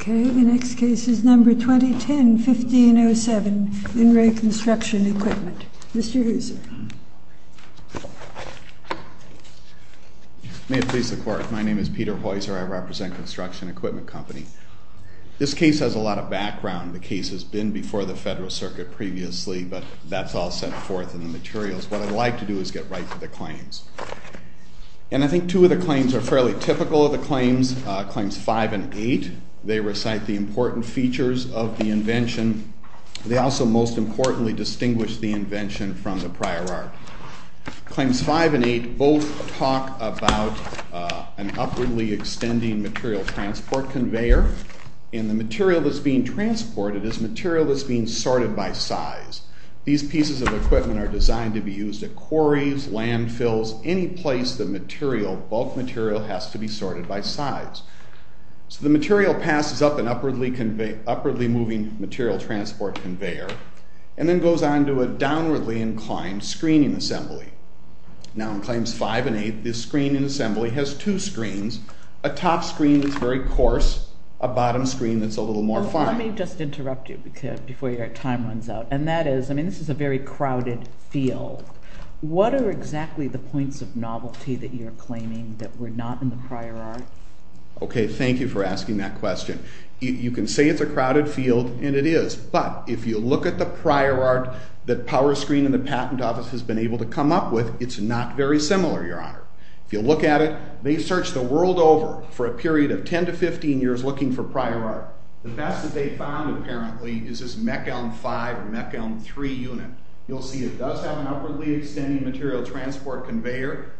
MR. HOISER. May it please the Court, my name is Peter Hoiser. I represent Construction Equipment Company. This case has a lot of background. The case has been before the Federal Circuit previously, but that's all set forth in the materials. What I'd like to do is get right to the claims. And I think two of the claims are fairly typical of Claims 15 and 16. Claims 17 and 18. Claims 19 and 20. Claims 5 and 8. They recite the important features of the invention. They also most importantly distinguish the invention from the prior art. Claims 5 and 8 both talk about an upwardly extending material transport conveyor. And the material that's being transported is material that's being sorted by size. These pieces of equipment are designed to be used at quarries, landfills, any place the material, bulk material, has to be sorted by size. The material passes up an upwardly moving material transport conveyor, and then goes on to a downwardly inclined screening assembly. Now in Claims 5 and 8, this screening assembly has two screens. A top screen that's very coarse, a bottom screen that's a little more fine. Let me just interrupt you before your time runs out. This is a very crowded field. What are exactly the points of novelty that you're drawing? Okay, thank you for asking that question. You can say it's a crowded field, and it is, but if you look at the prior art that Power Screen and the Patent Office has been able to come up with, it's not very similar your honor. If you look at it, they searched the world over for a period of 10 to 15 years looking for prior art. The best that they found apparently is this Mechelm 5 or Mechelm 3 unit. You'll see it does have an upwardly extending material transport conveyor.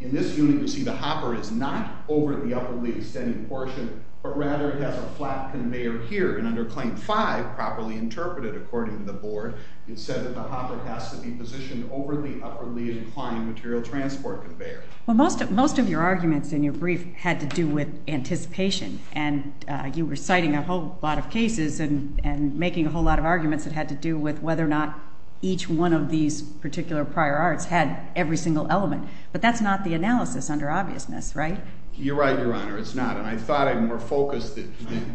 In this unit you'll see the hopper is not over the upwardly extending portion, but rather it has a flat conveyor here, and under Claim 5, properly interpreted according to the board, it said that the hopper has to be positioned over the upwardly inclining material transport conveyor. Well, most of your arguments in your brief had to do with anticipation, and you were citing a whole lot of cases and making a whole lot of arguments that had to do with whether or not each one of these particular prior arts had every single element, but that's not the analysis under obviousness, right? You're right, your honor, it's not, and I thought I'd more focus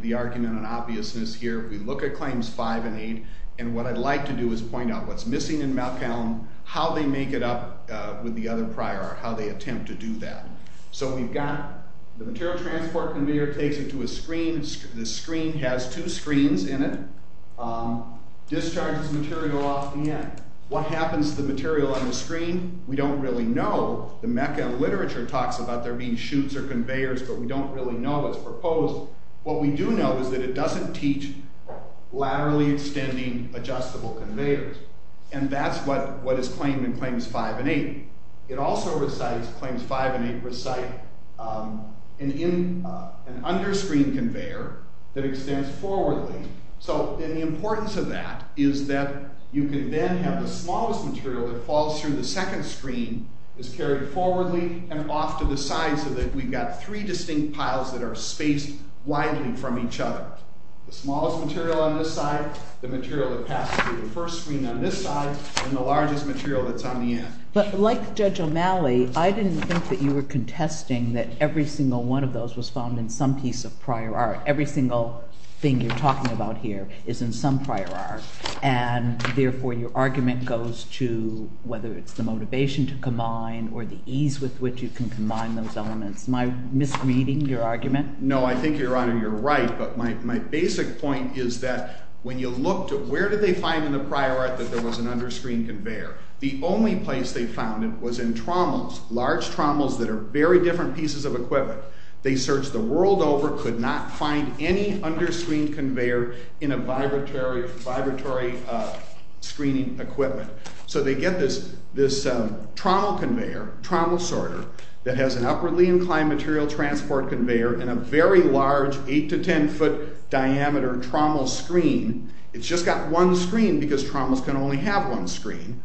the argument on obviousness here. We look at Claims 5 and 8, and what I'd like to do is point out what's missing in Mechelm, how they make it up with the other prior art, how they attempt to do that. So we've got the material transport conveyor takes it to a screen, the screen has two screens in it, discharges material off the end. What happens to the material we know, the Mechelm literature talks about there being chutes or conveyors, but we don't really know what's proposed. What we do know is that it doesn't teach laterally extending adjustable conveyors, and that's what is claimed in Claims 5 and 8. It also recites Claims 5 and 8 recite an underscreen conveyor that extends forwardly, so the importance of that is that you can then have the smallest material that falls through the second screen is carried forwardly and off to the side so that we've got three distinct piles that are spaced widely from each other. The smallest material on this side, the material that passes through the first screen on this side, and the largest material that's on the end. But like Judge O'Malley, I didn't think that you were contesting that every single one of those was found in some piece of prior art. Every single thing you're talking about here is in some prior art, and therefore your argument goes to whether it's the motivation to combine or the ease with which you can combine those elements. Am I misreading your argument? No, I think, Your Honor, you're right, but my basic point is that when you look to where did they find in the prior art that there was an underscreen conveyor, the only place they found it was in trommels, large trommels that are very different pieces of equipment. They searched the world over, could not find any underscreen conveyor in a vibratory screening equipment. So they get this trommel conveyor, trommel sorter, that has an upwardly inclined material transport conveyor and a very large eight to ten foot diameter trommel screen. It's just got one screen because trommels can only have one screen.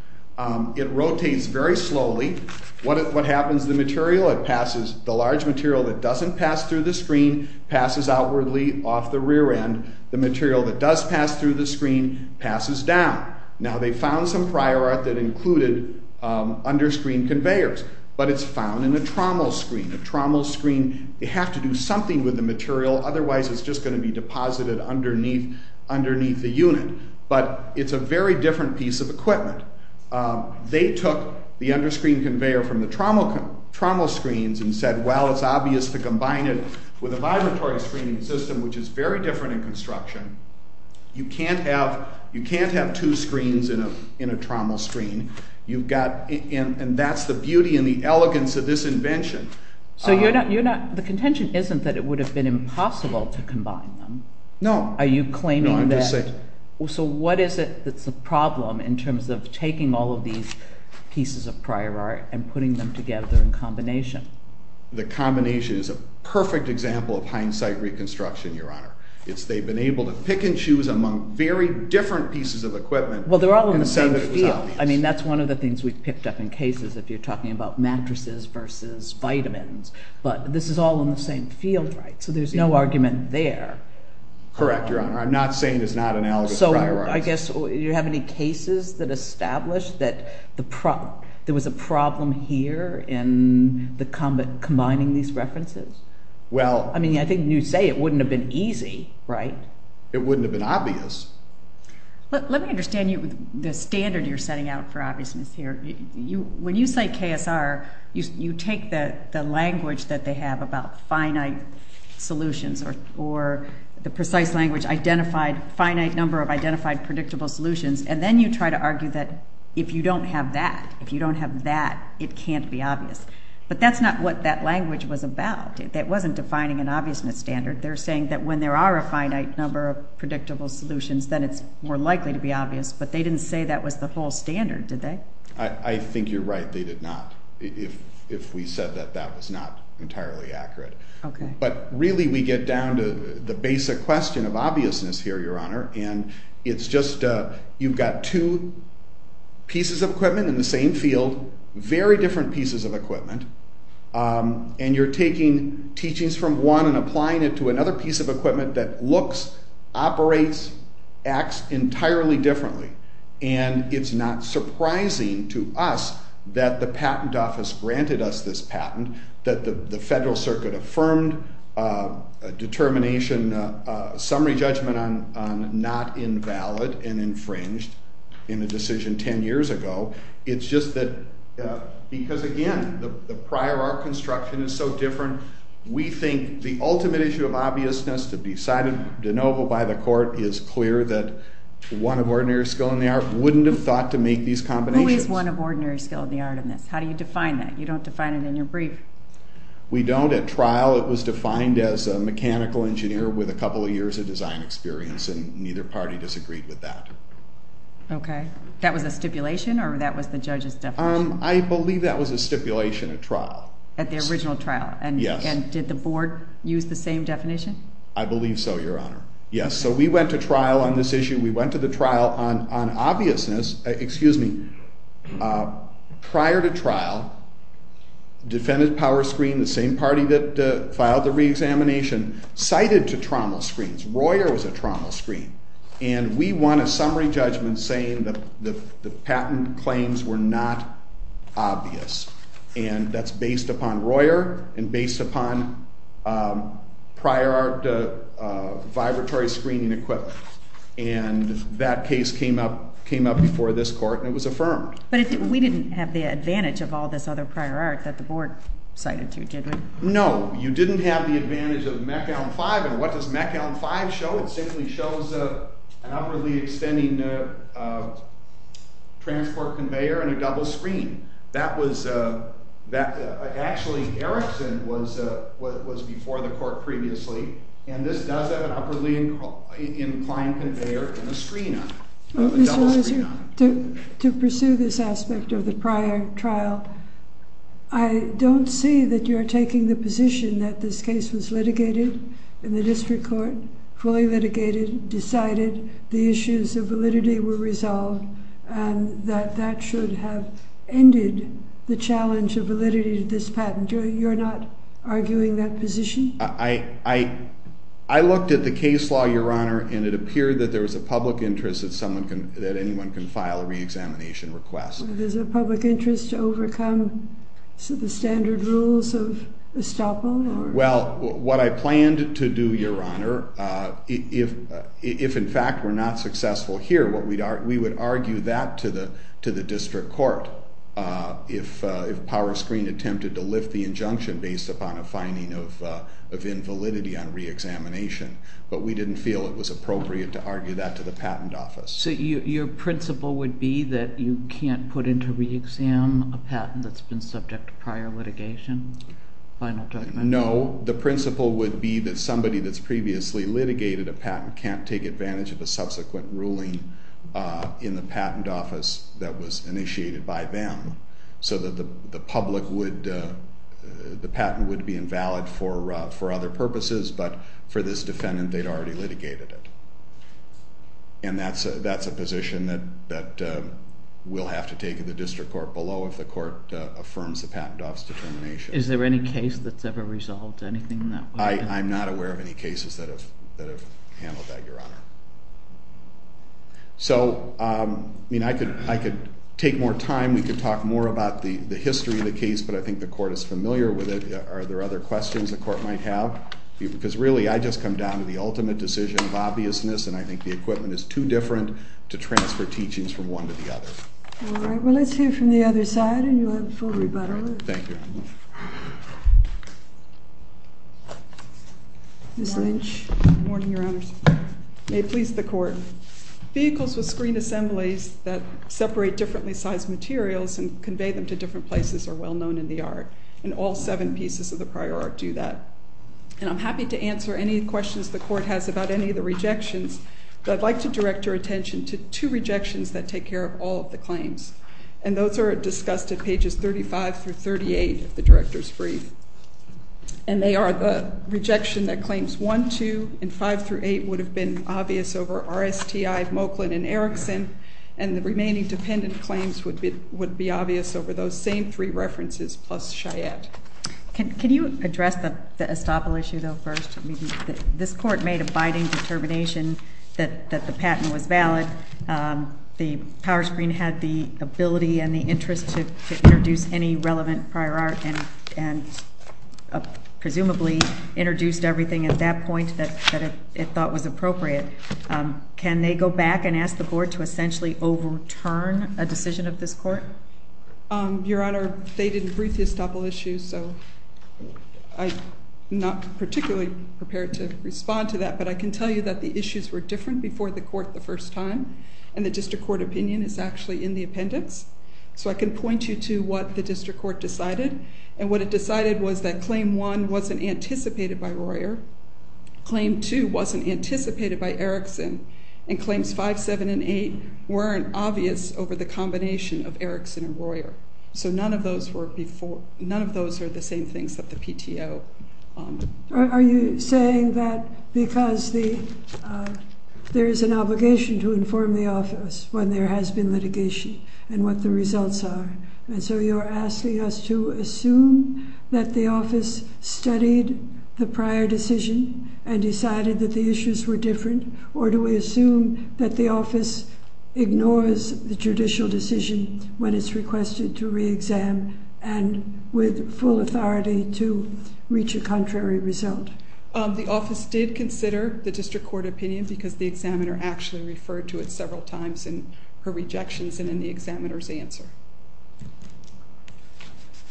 It rotates very slowly. What happens to the material? It passes the large material that doesn't pass through the screen, passes outwardly off the rear end. The material that does pass through the screen, passes down. Now they found some prior art that included underscreen conveyors, but it's found in a trommel screen. A trommel screen, you have to do something with the material otherwise it's just going to be deposited underneath the unit. But it's a very different piece of equipment. They took the underscreen conveyor from the trommel screens and said, well, it's obvious to combine it with a vibratory screening system, which is very different in construction. You can't have two screens in a trommel screen. That's the beauty and the elegance of this invention. The contention isn't that it would have been impossible to combine them. No. So what is it that's the problem in terms of taking all of these pieces of prior art and putting them together in combination? The combination is a perfect example of hindsight reconstruction, Your Honor. It's they've been able to pick and choose among very different pieces of equipment. Well, they're all in the same field. I mean, that's one of the things we've picked up in cases if you're talking about mattresses versus vitamins, but this is all in the same field, right? So there's no argument there. Correct, Your Honor. I'm not saying it's not analogous to prior art. So I guess you have any cases that establish that there was a problem here in the combining these references? I mean, I think you say it wouldn't have been easy, right? It wouldn't have been obvious. Let me understand the standard you're setting out for obviousness here. When you say KSR, you take the language that they have about finite solutions or the precise language, identified, finite number of identified predictable solutions, and then you try to argue that if you don't have that, if you don't have that, it can't be obvious. But that's not what that language was about. It wasn't defining an obviousness standard. They're saying that when there are a finite number of predictable solutions, then it's more likely to be obvious, but they didn't say that was the whole standard, did they? I think you're right. They did not. If we said that, that was not entirely accurate. But really, we get down to the basic question of obviousness here, Your Honor, and it's just you've got two pieces of equipment in the same field, very different pieces of equipment, and you're taking teachings from one and applying it to another piece of equipment that looks, operates, acts entirely differently. And it's not surprising to us that the patent office granted us this patent, that the Federal Circuit affirmed a determination, a summary judgment on not invalid and infringed in the decision ten years ago. It's just that, because again, the prior art construction is so different, we think the ultimate issue of obviousness to be cited de novo by the Court is clear that one of ordinary skill in the art wouldn't have thought to make these combinations. Who is one of ordinary skill in the art in this? How do you define that? You don't define it in your brief. We don't. At trial it was defined as a mechanical engineer with a couple of years of design experience and neither party disagreed with that. Okay. That was a stipulation or that was the judge's definition? I believe that was a stipulation at trial. At the original trial? Yes. And did the Board use the same definition? I believe so, Your Honor. Yes, so we went to trial on this issue, we went to the trial on obviousness, excuse me, prior to trial, defendant Powerscreen, the same party that filed the reexamination, cited to Trommel screens. Royer was a Trommel screen. And we won a summary judgment saying that the patent claims were not obvious. And that's based upon Royer and based upon prior art vibratory screening equipment. And that case came up before this Court and it was affirmed. But we didn't have the advantage of all this other prior art that the Board cited to, did we? No. You didn't have the advantage of Meckown 5 and what does Meckown 5 show? It simply shows an upwardly extending transport conveyor and a double screen. That was, actually, Erickson was before the Court previously and this does have an upwardly inclined conveyor and a screen on it. To pursue this aspect of the prior trial, I don't see that you're taking the position that this case was litigated in the District Court, fully litigated, decided, the issues of validity were resolved and that that should have ended the challenge of validity of this patent. You're not arguing that position? I looked at the case law, Your Honor, and it appeared that there was a public interest that anyone can file a reexamination request. There's a public interest to overcome So the standard rules of Estoppo? Well, what I planned to do, Your Honor, if in fact we're not successful here, we would argue that to the District Court if PowerScreen attempted to lift the injunction based upon a finding of invalidity on reexamination, but we didn't feel it was appropriate to argue that to the Patent Office. So your principle would be that you can't put into reexam a patent that's been subject to prior litigation? No, the principle would be that somebody that's previously litigated a patent can't take advantage of a subsequent ruling in the Patent Office that was initiated by them so that the public would the patent would be invalid for other purposes but for this defendant they'd already litigated it. And that's a position that we'll have to take at the District Court below if the court affirms the Patent Office determination. Is there any case that's ever resolved? I'm not aware of any cases that have handled that, Your Honor. So I mean I could take more time, we could talk more about the history of the case, but I think the court is familiar with it. Are there other questions the court might have? Because really I just come down to the ultimate decision of obviousness and I think the equipment is too different to transfer teachings from one to the other. All right, well let's hear from the other side and you'll have full rebuttal. Thank you. Ms. Lynch? Good morning, Your Honors. May it please the court. Vehicles with screen assemblies that separate differently sized materials and convey them to different places are well known in the art and all seven pieces of the prior art do that. And I'm happy to answer any questions the court has about any of the rejections, but I'd like to direct your attention to two rejections that take care of all of the claims. And those are discussed at pages 35 through 38 of the director's brief. And they are the rejection that claims 1, 2, and 5 through 8 would have been obvious over R.S.T.I., Moklin, and Erickson, and the remaining dependent claims would be obvious over those same three references plus Chayette. Can you address the Estoppel issue though first? This court made a biting determination that the patent was valid. The power screen had the ability and the interest to introduce any relevant prior art and presumably introduced everything at that point that it thought was appropriate. Can they go back and ask the board to essentially overturn a decision of this court? Your Honor, they didn't brief the Estoppel issue, so I'm not particularly prepared to respond to that, but I can tell you that the issues were different before the court the first time, and the district court opinion is actually in the appendix. So I can point you to what the district court decided, and what it decided was that claim 1 wasn't anticipated by Royer, claim 2 wasn't anticipated by Erickson, and claims 5, 7, and 8 weren't obvious over the combination of Erickson and Royer. So none of those were before except the PTO. Are you saying that because there is an obligation to inform the office when there has been litigation and what the results are, and so you're asking us to assume that the office studied the prior decision and decided that the issues were that the office ignores the judicial decision when it's requested to re-exam and with full authority to reach a contrary result? The office did consider the district court opinion because the examiner actually referred to it several times in her rejections and in the examiner's answer.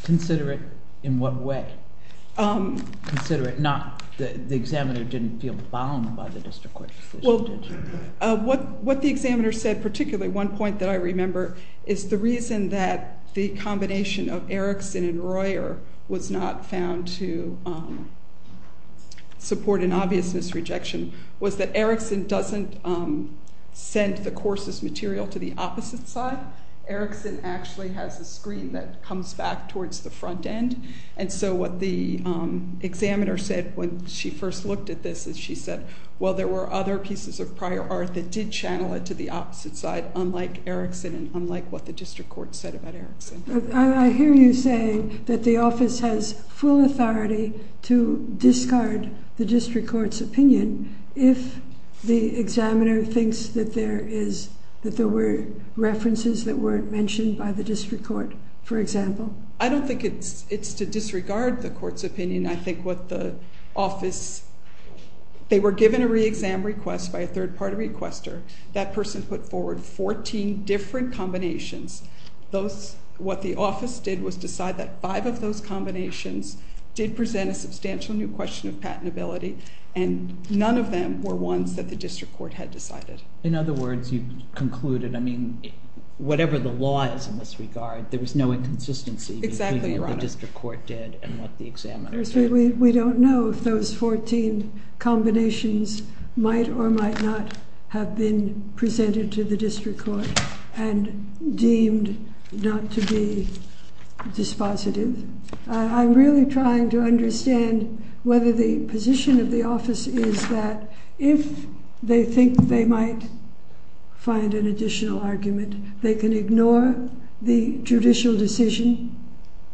Consider it in what way? Consider it not the examiner didn't feel bound by the district court decision, did she? What the examiner said particularly one point that I remember is the reason that the combination of Erickson and Royer was not found to support an obvious misrejection was that Erickson doesn't send the course's material to the opposite side. Erickson actually has a screen that comes back towards the front end and so what the examiner said when she first looked at this is she said well there were other pieces of prior art that did channel it to the opposite side unlike Erickson and unlike what the district court said about Erickson. I hear you saying that the office has full authority to discard the district court's opinion if the examiner thinks that there is that there were references that weren't mentioned by the district court for example. I don't think it's to disregard the court's opinion I think what the office they were given a re-exam request by a third party requester that person put forward 14 different combinations those what the office did was decide that 5 of those combinations did present a substantial new question of patentability and none of them were ones that the district court had decided. In other words you concluded I mean whatever the law is in this regard there was no inconsistency between what the district court did and what the examiner said. We don't know if those 14 combinations might or might not have been presented to the district court and deemed not to be dispositive. I'm really trying to understand whether the position of the office is that if they think they might find an additional argument they can ignore the judicial decision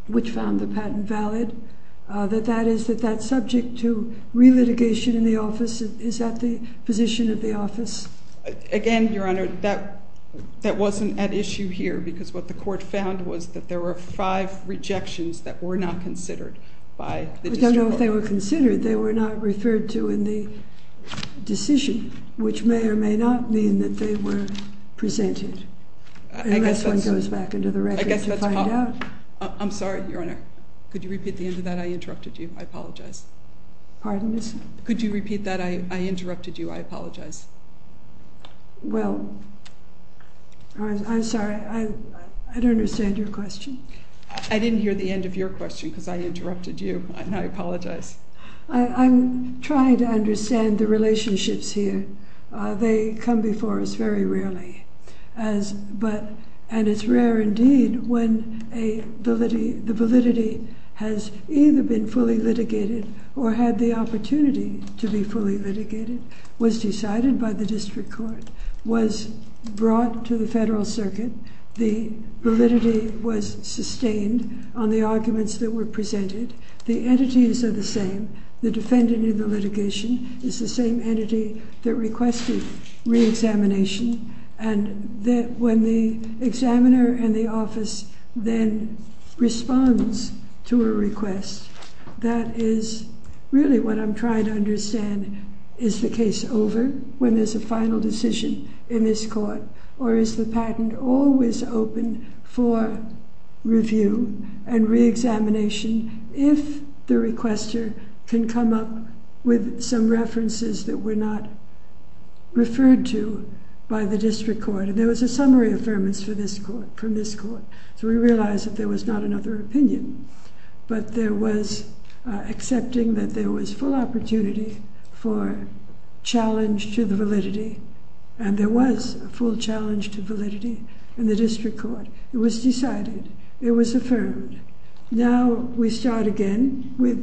which found the patent valid that that is that that subject to re-litigation in the office is that the position of the office? Again your honor that wasn't at issue here because what the court found was that there were 5 rejections that were not considered by the district court. I don't know if they were considered they were not referred to in the decision which may or may not mean that they were presented unless one goes back into the record to find out. I'm sorry your honor could you repeat the end of that I interrupted you I apologize. Pardon me? Could you repeat that I interrupted you I apologize. Well I'm sorry I don't understand your question. I didn't hear the end of your question because I interrupted you and I apologize. I'm trying to understand the relationships here they come before us very rarely and it's rare indeed when a validity has either been fully litigated or had the opportunity to be fully litigated was decided by the district court was brought to the federal circuit the validity was sustained on the arguments that were presented the entities are the same the defendant in the litigation is the same entity that requested re-examination and when the examiner in the office then responds to a request that is really what I'm trying to understand is the case over when there's a final decision in this court or is the patent always open for review and re-examination if the requester can come up with some references that were not referred to by the district court and there was a summary affirmance from this court so we realized that there was not another opinion but there was accepting that there was full opportunity for challenge to the validity and there was a full challenge to validity in the district court it was decided it was affirmed now we start again with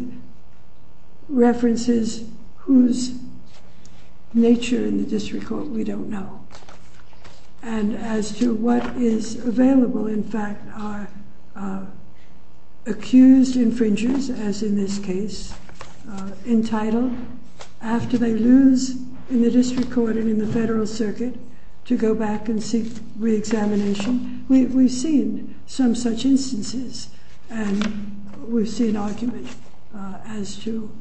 references whose nature in the district court we don't know and as to what is available in fact are accused infringers as in this case entitled after they lose in the district court and in the federal circuit to go back and seek re-examination we've seen some such instances and we've seen argument as to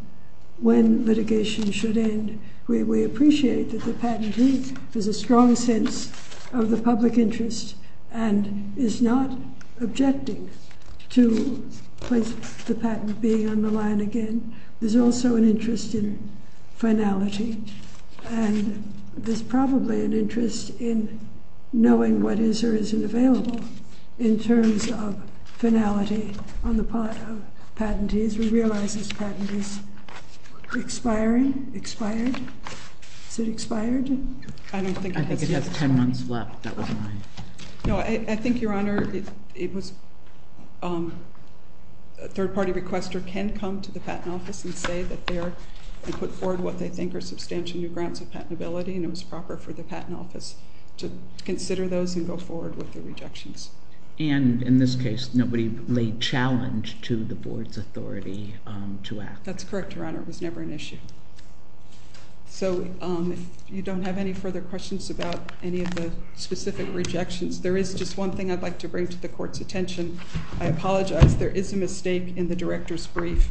when litigation should end we appreciate that the patentee has a strong sense of the public interest and is not objecting to the patent being on the line again there's also an interest in finality and there's probably an interest in knowing what is or isn't available in terms of finality on the part of patentees we realize this patent is expiring expired? Is it expired? I think it has 10 months left I think your honor it was a third party requester can come to the patent office and say that they put forward what they think are substantial new grounds of patentability and it was proper for the patent office to consider those and go forward with the rejections and in this case nobody laid challenge to the board's authority to act that's correct your honor it was never an issue so if you don't have any further questions about any of the specific rejections there is just one thing I'd like to bring to the court's attention I apologize there is a mistake in the director's brief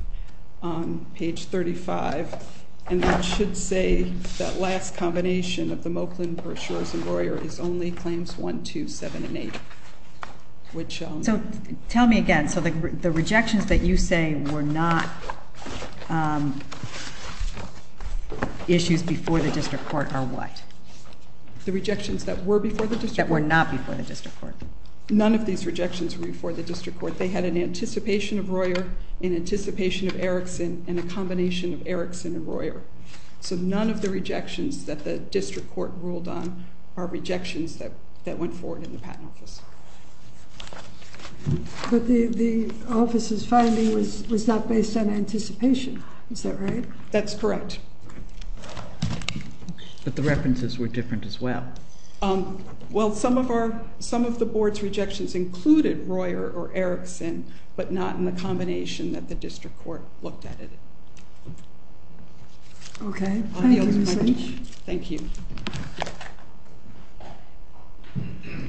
on page 35 and that should say that last combination of the Moklin brochures and Royer is only claims 1, 2, 7, and 8 which tell me again so the rejections that you say were not issues before the district court are what? that were not before the district court none of these rejections were before the district court they had an anticipation of Royer, an anticipation of Erickson, and a combination of Erickson and Royer so none of the rejections that the district court ruled on are rejections that went forward in the patent office but the office's finding was not based on anticipation is that right? that's correct but the references were different as well well some of our some of the board's rejections included Royer or Erickson but not in the combination that the district court looked at it okay thank you thank you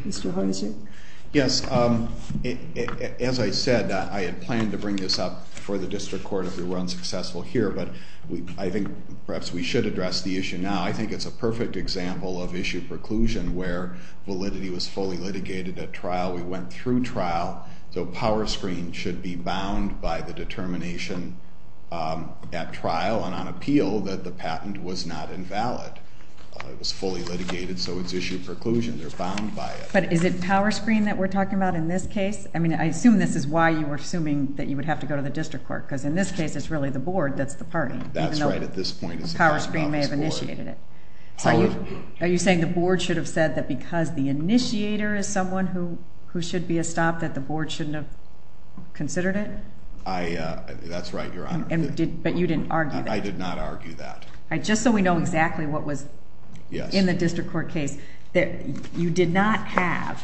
Mr. Hardison yes as I said I had planned to bring this up for the district court if we were unsuccessful here but I think perhaps we should address the issue now I think it's a perfect example of issue preclusion where validity was fully litigated at trial we went through trial so power screen should be bound by the determination at trial and on appeal that the patent was not invalid it was fully litigated so it's issue preclusion they're bound by it but is it power screen that we're talking about in this case? I assume this is why you were assuming that you would have to go to the district court because in this case it's really the board that's the party power screen may have initiated it are you saying the board should have said that because the initiator is someone who should be a stop that the board shouldn't have considered it? that's right your honor but you didn't argue that I did not argue that just so we know exactly what was in the district court case you did not have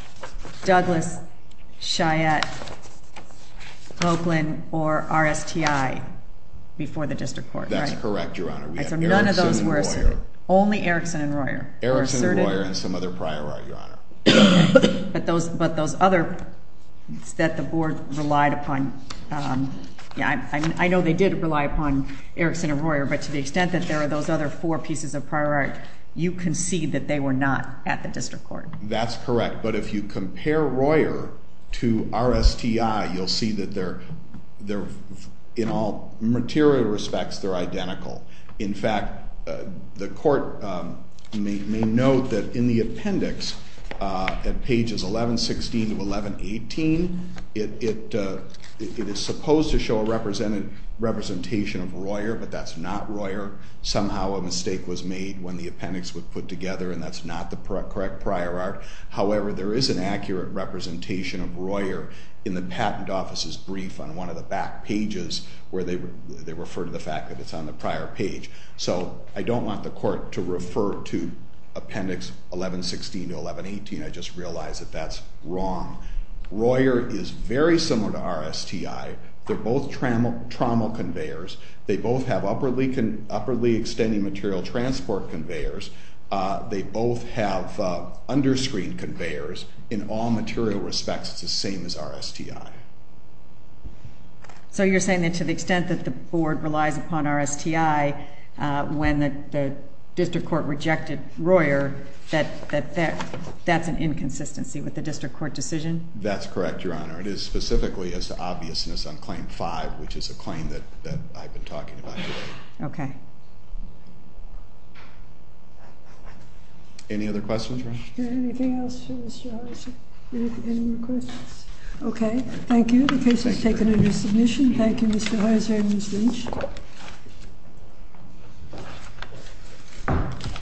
Douglas Cheyette Oakland or RSTI before the district court that's correct your honor we had Erickson and Royer only Erickson and Royer and some other prior art your honor but those other that the board relied upon I know they did rely upon Erickson and Royer but to the extent that there are those other four pieces of prior art you concede that they were not at the district court that's correct but if you compare Royer to RSTI you'll see that they're in all material respects they're identical in fact the court may note that in the appendix at pages 1116 to 1118 it is supposed to show a representation of Royer but that's not Royer somehow a mistake was made when the appendix was put together and that's not the correct prior art however there is an accurate representation of Royer in the patent office's brief on one of the back pages where they refer to the fact that it's on the prior page so I don't want the court to refer to appendix 1116 to 1118 I just realize that that's wrong. Royer is very similar to RSTI they're both trommel conveyors they both have upperly extending material transport conveyors they both have underscreen conveyors in all material respects it's the same as RSTI so you're saying that to the extent that the board relies upon RSTI when the district court rejected Royer that that's an inconsistency with the district court decision? That's correct your honor it is specifically as to obviousness on claim 5 which is a claim that I've been talking about today. Okay. Any other questions? Anything else for Mr. Horizer? Any more questions? Okay thank you the case is taken under submission thank you Mr. Horizer and Ms. Lynch.